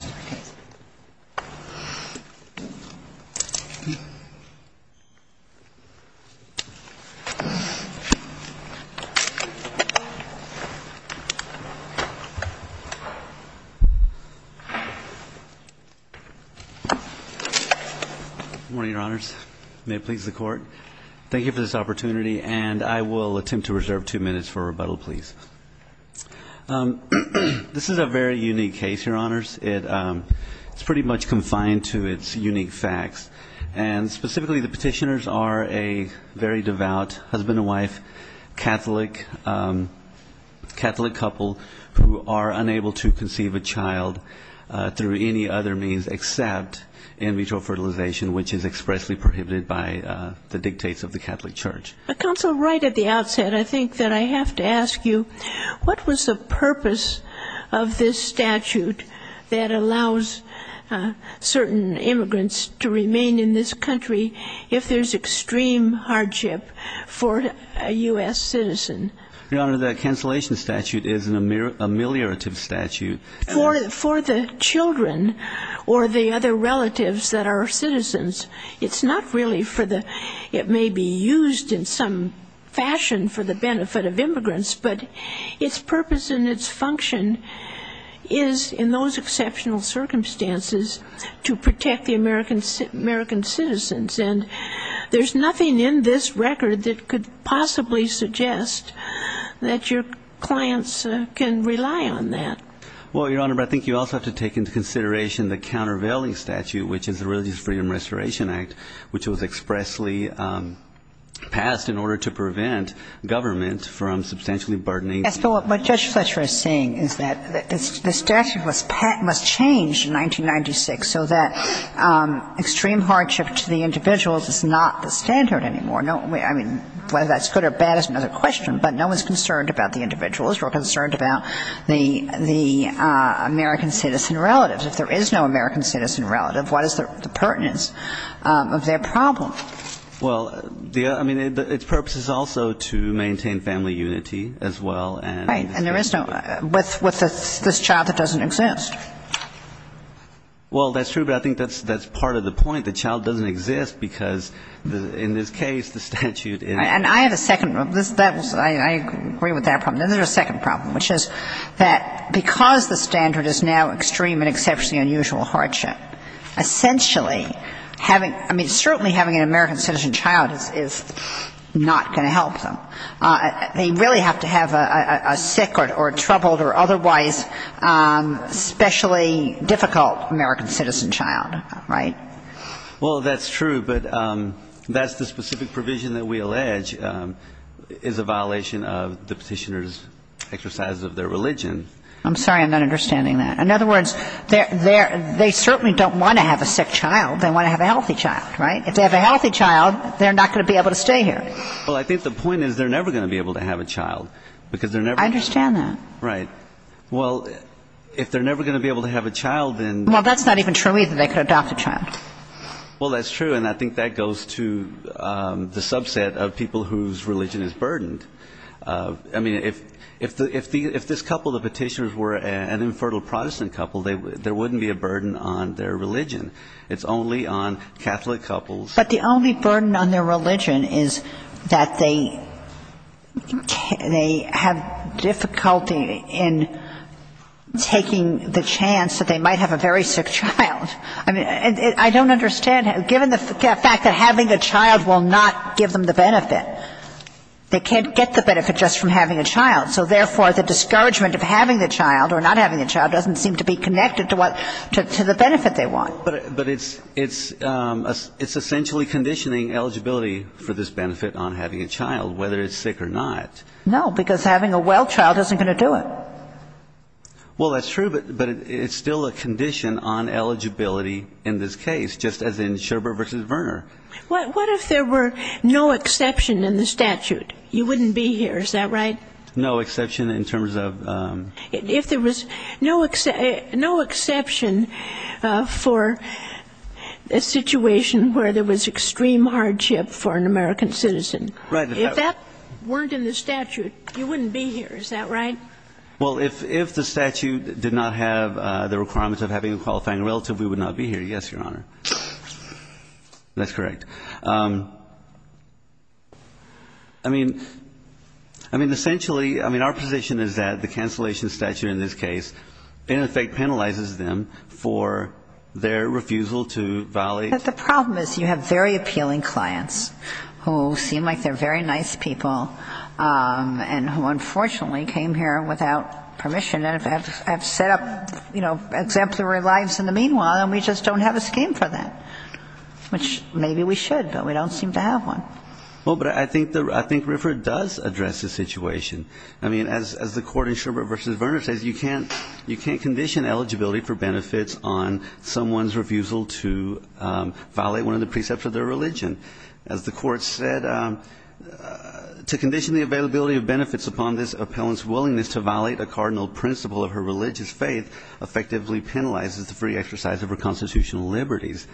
Good morning, Your Honors. May it please the Court, thank you for this opportunity and I will attempt to reserve two minutes for rebuttal please. This is a very unique case, Your Honors. It's pretty much confined to its unique facts and specifically the petitioners are a very devout husband and wife, Catholic couple who are unable to conceive a child through any other means except in vitro fertilization which is expressly prohibited by the dictates of the Catholic Church. Counsel, right at the outset I think that I have to ask you, what was the purpose of this statute that allows certain immigrants to remain in this country if there's extreme hardship for a U.S. citizen? Your Honor, the cancellation statute is an ameliorative statute. For the children or the other relatives that are citizens, it's not really for the, it may be used in some fashion for the benefit of immigrants, but its purpose and its function is in those exceptional circumstances to protect the American citizens. And there's nothing in this record that could possibly suggest that your clients can rely on that. Well, Your Honor, but I think you also have to take into consideration the countervailing statute which is the Religious Freedom Restoration Act which was expressly passed in order to prevent government from substantially burdening. Yes, but what Judge Fletcher is saying is that the statute must change in 1996 so that extreme hardship to the individuals is not the standard anymore. I mean, whether that's good or bad is another question, but no one's concerned about the individuals. We're concerned about the American citizen relatives. If there is no American citizen relative, what is the pertinence of their problem? Well, I mean, its purpose is also to maintain family unity as well. Right. And there is no, with this child that doesn't exist. Well, that's true, but I think that's part of the point. The child doesn't exist because in this case the statute in it is that because the standard is now extreme and exceptionally unusual hardship, essentially having, I mean, certainly having an American citizen child is not going to help them. They really have to have a sick or troubled or otherwise specially difficult American citizen child, right? Well, that's true, but that's the specific provision that we allege is a violation of the Petitioner's exercise of their religion. I'm sorry. I'm not understanding that. In other words, they certainly don't want to have a sick child. They want to have a healthy child, right? If they have a healthy child, they're not going to be able to stay here. Well, I think the point is they're never going to be able to have a child because they're never going to be able to have a child. I understand that. Right. Well, if they're never going to be able to have a child, then they're not going to be able to stay here. Well, that's not even true either. They could adopt a child. Well, that's true, and I think that goes to the subset of people whose religion is burdened. I mean, if this couple, the Petitioners, were an infertile Protestant couple, there wouldn't be a burden on their religion. It's only on Catholic couples. But the only burden on their religion is that they have difficulty in taking the chance that they might have a very sick child. I mean, I don't understand, given the fact that having a child will not give them the benefit. They can't get the benefit just from having a child. So therefore, the discouragement of having a child or not having a child doesn't seem to be connected to what, to the benefit they want. But it's essentially conditioning eligibility for this benefit on having a child, whether it's sick or not. No, because having a well child isn't going to do it. Well, that's true, but it's still a condition on eligibility in this case, just as in Scherber v. Verner. What if there were no exception in the statute? You wouldn't be here, is that right? No exception in terms of? If there was no exception for a situation where there was extreme hardship for an American citizen, if that weren't in the statute, you wouldn't be here, is that right? Well, if the statute did not have the requirements of having a qualifying relative, we would not be here, yes, Your Honor. That's correct. I mean, essentially, I mean, our position is that the cancellation statute in this case, in effect, penalizes them for their refusal to violate. The problem is you have very appealing clients who seem like they're very nice people and who unfortunately came here without permission and have set up exemplary lives in the meanwhile, and we just don't have a scheme for that, which maybe we should, but we don't seem to have one. Well, but I think Riffer does address the situation. I mean, as the Court in Scherber v. Verner says, you can't condition eligibility for benefits on someone's refusal to violate one of the precepts of their religion. As the Court said, to condition the availability of benefits upon this appellant's willingness to violate a cardinal principle of her religious faith effectively penalizes the free exercise of her constitutional liberties.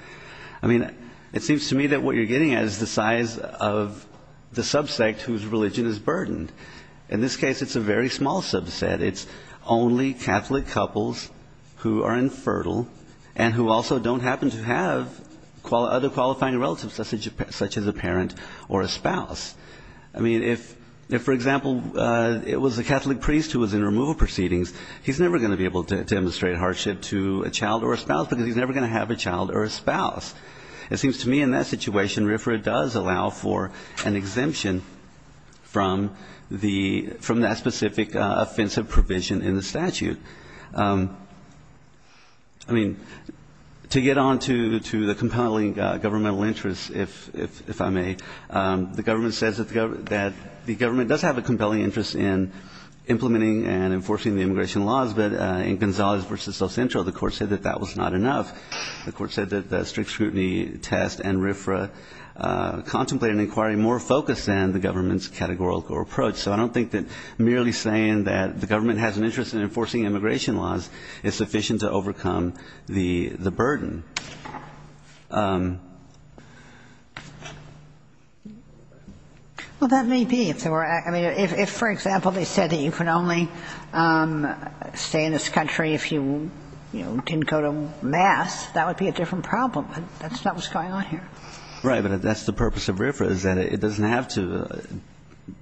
I mean, it seems to me that what you're getting at is the size of the subsect whose religion is burdened. In this case, it's a very small subset. It's only Catholic couples who are infertile and who also don't happen to have other qualifying relatives, such as a parent or a spouse. I mean, if, for example, it was a Catholic priest who was in removal proceedings, he's never going to be able to demonstrate hardship to a child or a spouse because he's never going to have a child or a spouse. It seems to me in that situation, Riffer does allow for an exemption from that specific offensive provision in the statute. I mean, to get on to the compelling governmental interests, if I may, the government says that the government does have a compelling interest in implementing and enforcing the immigration laws, but in Gonzales v. El Centro, the Court said that that was not enough. The Court said that the strict scrutiny test and Riffra contemplated an inquiry more focused than the government's categorical approach. So I don't think that merely saying that the government has an interest in enforcing immigration laws is sufficient to overcome the burden. Well, that may be. I mean, if, for example, they said that you can only stay in this country if you didn't go to mass, that would be a different problem. But that's not what's going on here. Right. But that's the purpose of Riffra, is that it doesn't have to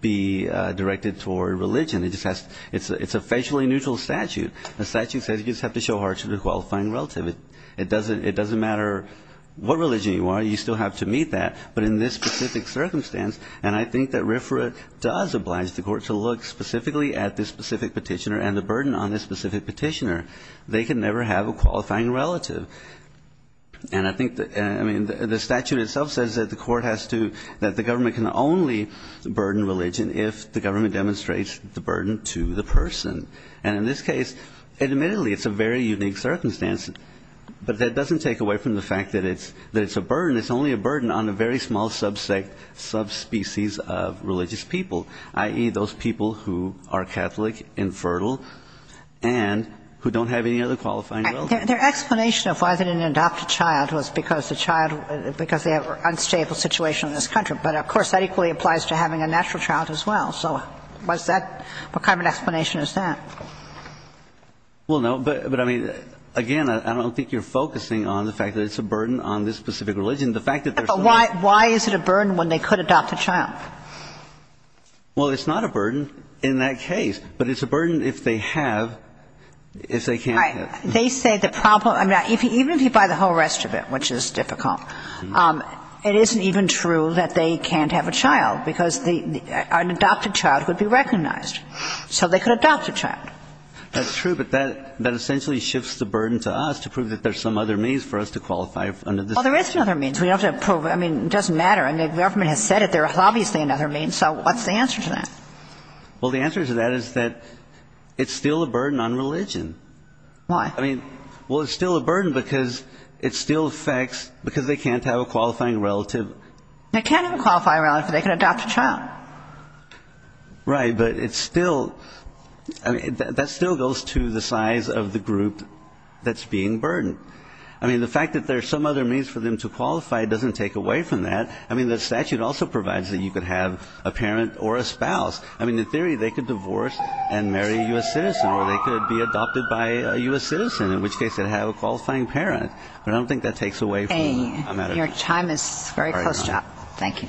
be directed toward religion. It's a facially neutral statute. The statute says you just have to show heart to the qualifying relative. It doesn't matter what religion you are, you still have to meet that. But in this specific circumstance, and I think that Riffra does oblige the Court to look specifically at this specific petitioner and the burden on this specific petitioner, they can never have a qualifying relative. And I think that, I mean, the statute itself says that the Court has to, that the government can only burden religion if the government demonstrates the burden to the person. And in this case, admittedly, it's a very unique circumstance. But that doesn't take away from the fact that it's a burden. It's only a burden on a very small subspecies of religious people, i.e., those people who are Catholic, infertile, and who don't have any other qualifying relative. Their explanation of why they didn't adopt a child was because the child, because they have an unstable situation in this country. But, of course, that equally applies to having a natural child as well. So was that – what kind of an explanation is that? Well, no. But, I mean, again, I don't think you're focusing on the fact that it's a burden on this specific religion. The fact that there's no – But why – why is it a burden when they could adopt a child? Well, it's not a burden in that case. But it's a burden if they have – if they can't have. Right. They say the problem – I mean, even if you buy the whole rest of it, which is difficult, it isn't even true that they can't have a child, because the – an adopted child would be recognized. So they could adopt a child. That's true. But that – that essentially shifts the burden to us to prove that there's some other means for us to qualify under this. Well, there is another means. We have to prove – I mean, it doesn't matter. I mean, the government has said it. There's obviously another means. So what's the answer to that? Well, the answer to that is that it's still a burden on religion. Why? I mean, well, it's still a burden because it still affects – because they can't have a qualifying relative. They can't have a qualifying relative if they can adopt a child. Right. But it's still – I mean, that still goes to the size of the group that's being burdened. I mean, the fact that there's some other means for them to qualify doesn't take away from that. I mean, the statute also provides that you could have a parent or a spouse. I mean, in theory, they could divorce and marry a U.S. citizen, or they could be adopted by a U.S. citizen, in which case they'd have a qualifying parent. But I don't think that takes away from the matter. Okay. Your time is very close, John. Thank you.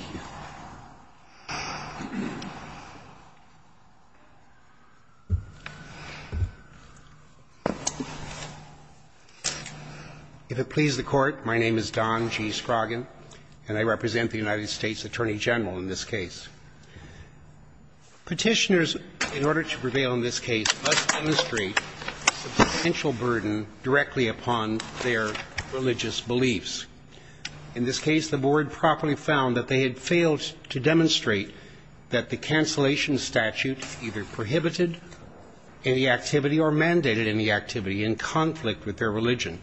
If it pleases the Court, my name is Don G. Scroggin, and I represent the United States Attorney General in this case. Petitioners, in order to prevail in this case, must demonstrate a substantial burden directly upon their religious beliefs. In this case, the Board properly found that they had failed to demonstrate that the cancellation statute either prohibited any activity or mandated any activity in conflict with their religion.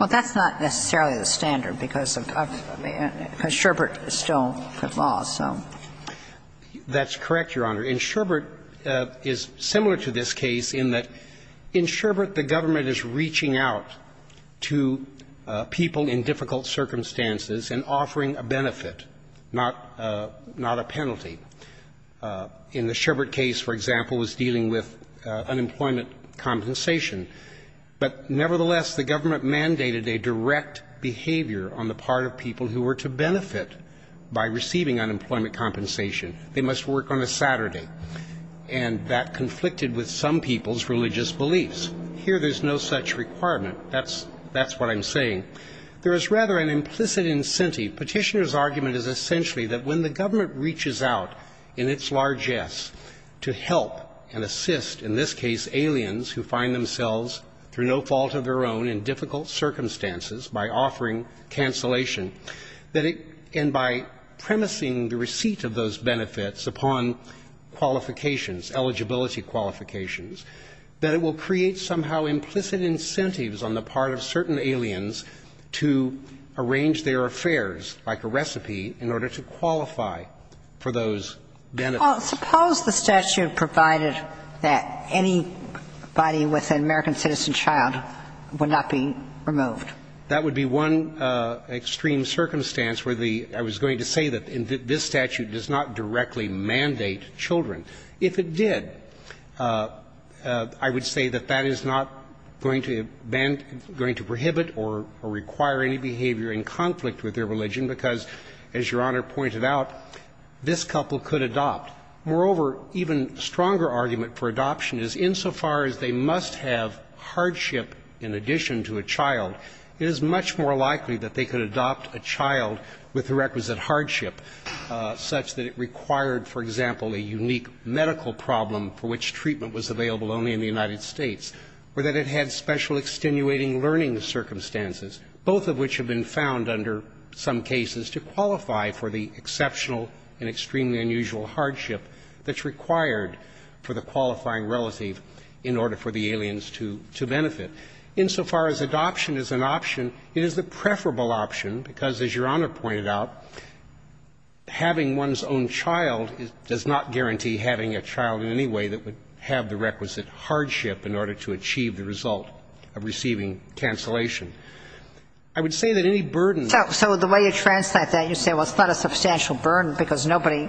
Well, that's not necessarily the standard, because of the government, because Sherbert still put laws, so. That's correct, Your Honor. And Sherbert is similar to this case in that in Sherbert, the government is reaching out to people in difficult circumstances and offering a benefit, not a penalty. In the Sherbert case, for example, it was dealing with unemployment compensation. But nevertheless, the government mandated a direct behavior on the part of people who were to benefit by receiving unemployment compensation. They must work on a Saturday. And that conflicted with some people's religious beliefs. Here, there's no such requirement. That's what I'm saying. There is rather an implicit incentive. Petitioners' argument is essentially that when the government reaches out in its largesse to help and assist, in this case, aliens who find themselves, through no fault of their own, in difficult circumstances by offering cancellation, that it can, by premising the receipt of those benefits upon qualifications, eligibility qualifications, that it will create somehow implicit incentives on the part of certain aliens to arrange their affairs like a recipe in order to qualify for those benefits. Well, suppose the statute provided that anybody with an American citizen child would not be removed. That would be one extreme circumstance where the – I was going to say that this statute does not directly mandate children. If it did, I would say that that is not going to ban – going to prohibit or require any behavior in conflict with their Moreover, even stronger argument for adoption is insofar as they must have hardship in addition to a child, it is much more likely that they could adopt a child with the requisite hardship, such that it required, for example, a unique medical problem for which treatment was available only in the United States, or that it had special extenuating learning circumstances, both of which have been found under some cases to qualify for the exceptional and extremely unusual hardship that's required for the qualifying relative in order for the aliens to benefit. Insofar as adoption is an option, it is the preferable option because, as Your Honor pointed out, having one's own child does not guarantee having a child in any way that would have the requisite hardship in order to achieve the result of receiving cancellation. I would say that any burden So the way you translate that, you say, well, it's not a substantial burden because nobody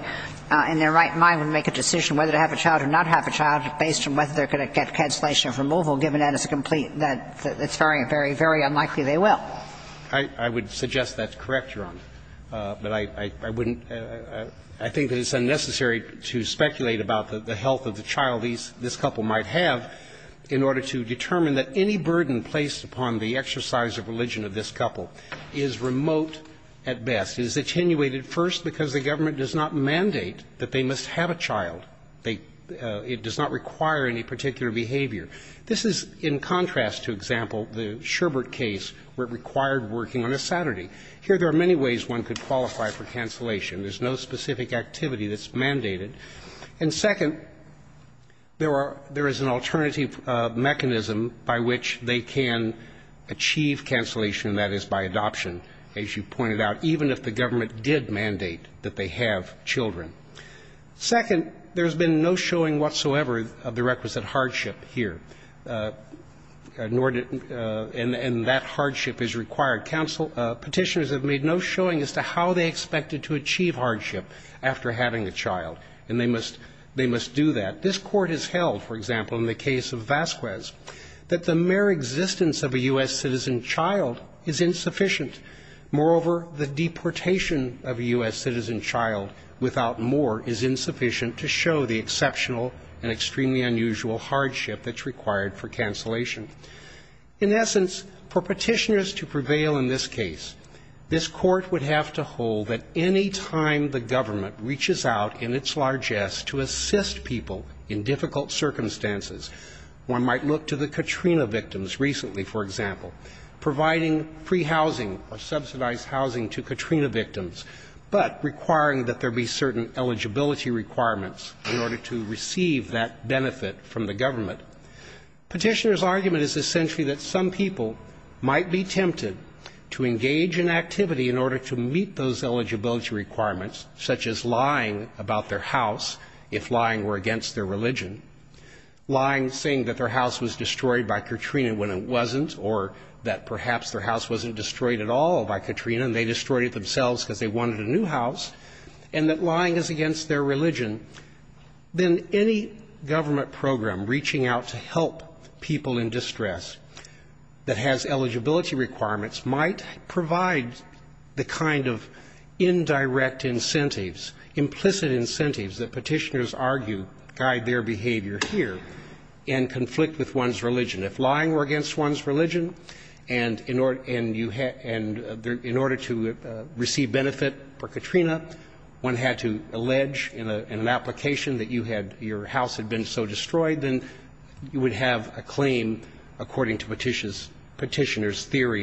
in their right mind would make a decision whether to have a child or not have a child based on whether they're going to get cancellation or removal, given that it's a complete – that it's very, very, very unlikely they will. I would suggest that's correct, Your Honor. But I wouldn't – I think that it's in order to determine that any burden placed upon the exercise of religion of this couple is remote at best. It is attenuated first because the government does not mandate that they must have a child. They – it does not require any particular behavior. This is in contrast to, example, the Sherbert case where it required working on a Saturday. Here there are many ways one could qualify for cancellation. There's no specific activity that's mandated. And second, there are – there is an alternative mechanism by which they can achieve cancellation, and that is by adoption, as you pointed out, even if the government did mandate that they have children. Second, there's been no showing whatsoever of the requisite hardship here, nor did – and that hardship is required. Petitioners have made no showing as to how they must – they must do that. This Court has held, for example, in the case of Vasquez, that the mere existence of a U.S. citizen child is insufficient. Moreover, the deportation of a U.S. citizen child without more is insufficient to show the exceptional and extremely unusual hardship that's required for cancellation. In essence, for petitioners to prevail in this case, this Court would have to hold that any time the government reaches out in its largesse to assist people in difficult circumstances, one might look to the Katrina victims recently, for example, providing free housing or subsidized housing to Katrina victims, but requiring that there be certain eligibility requirements in order to receive that benefit from the government. Petitioners' argument is essentially that some people might be tempted to engage in activity in order to meet those eligibility requirements, such as lying about their house if lying were against their religion, lying saying that their house was destroyed by Katrina when it wasn't, or that perhaps their house wasn't destroyed at all by Katrina and they destroyed it themselves because they wanted a new house, and that lying is against their religion. Then any government program reaching out to help people in distress that has eligibility requirements might provide the kind of indirect incentives, implicit incentives that petitioners argue guide their behavior here and conflict with one's religion. If lying were against one's religion and in order to receive benefit for Katrina, one had to allege in an application that you had your house had been so destroyed, then you would have a claim, according to petitioners' theory,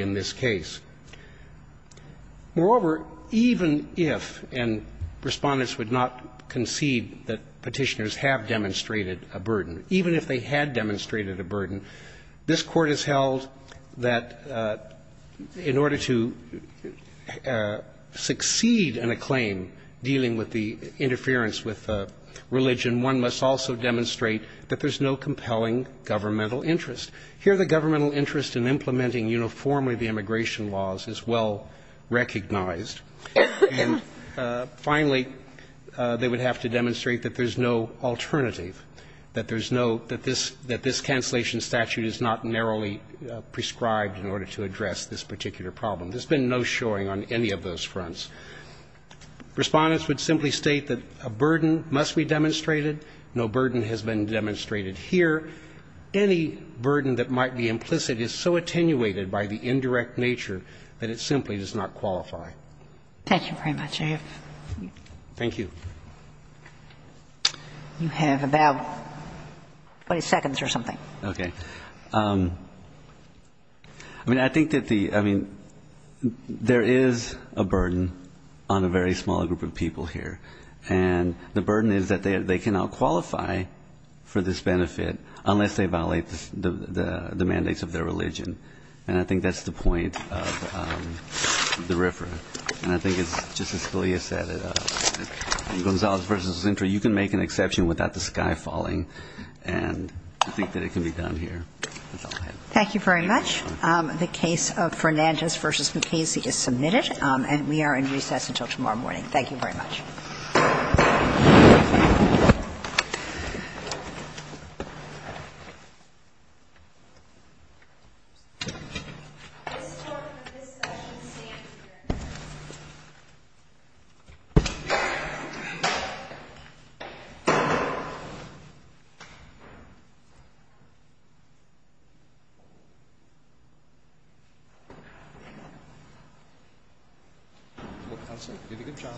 that the petitioner had demonstrated a burden. Moreover, even if, and Respondents would not concede that petitioners have demonstrated a burden, even if they had demonstrated a burden, this Court has held that in order to succeed in a claim dealing with the interference with religion, one must also demonstrate that there's no compelling governmental interest. Here the governmental interest in implementing uniformly the immigration laws is well recognized, and finally, they would have to demonstrate that there's no alternative, that there's no, that this, that this cancellation statute is not narrowly prescribed in order to address this particular problem. There's been no showing on any of those fronts. Respondents would simply state that a burden must be demonstrated, no burden has been demonstrated, that a burden that might be implicit is so attenuated by the indirect nature that it simply does not qualify. Thank you very much. Thank you. You have about 20 seconds or something. Okay. I mean, I think that the, I mean, there is a burden on a very small group of people here, and the burden is that they cannot qualify for this benefit unless they violate the mandates of their religion. And I think that's the point of the referent. And I think it's just as Julia said, in Gonzalez v. Zintra, you can make an exception without the sky falling, and I think that it can be done here. Thank you very much. The case of Fernandez v. Mukasey is submitted, and we are in recess until tomorrow morning. Thank you very much. Good job. Thank you. Thank you.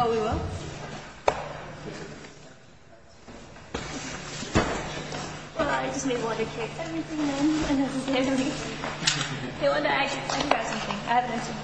Oh, we will? Well, I just may want to kick everything and everything. Hey, I forgot something. I have an item.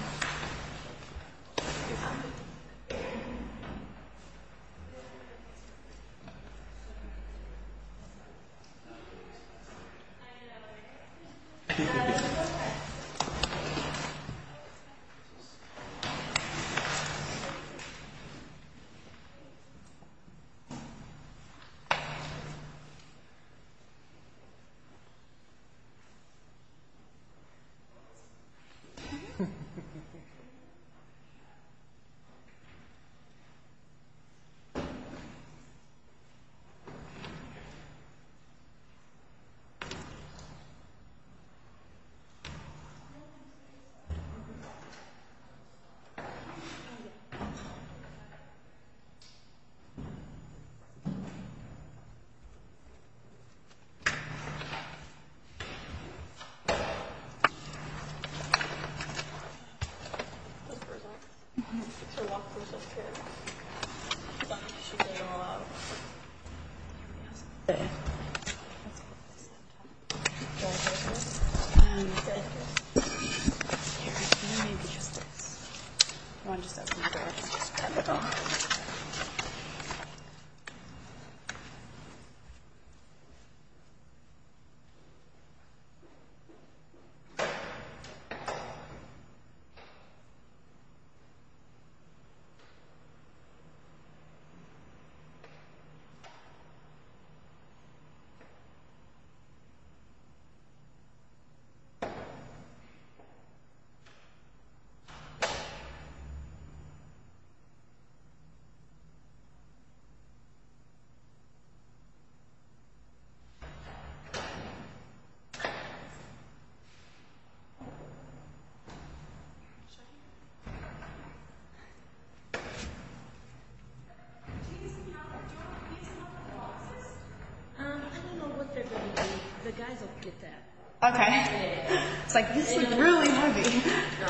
Thank you. Thank you. Thank you. Thank you. Thank you. Thank you.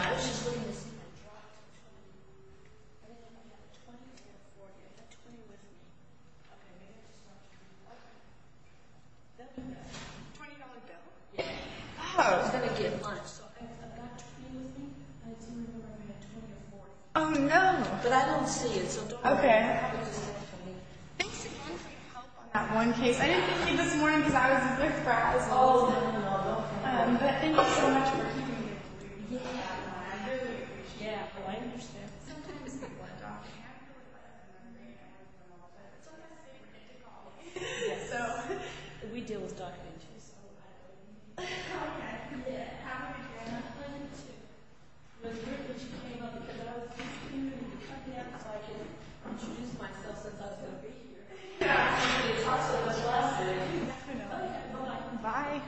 Thank you. Okay. It's like, this is really moving. Oh. Oh, no. Okay. Thanks again for your help on that one case. I didn't think of you this morning because I was with practice all day. But thank you so much for coming here. Yeah, well, I understand. So, we deal with document issues. Okay. Yeah, have a good day. It was great that you came up because I was just thinking of you coming up so I could introduce myself since I was going to be here. Yeah. Bye. Bye. Bye.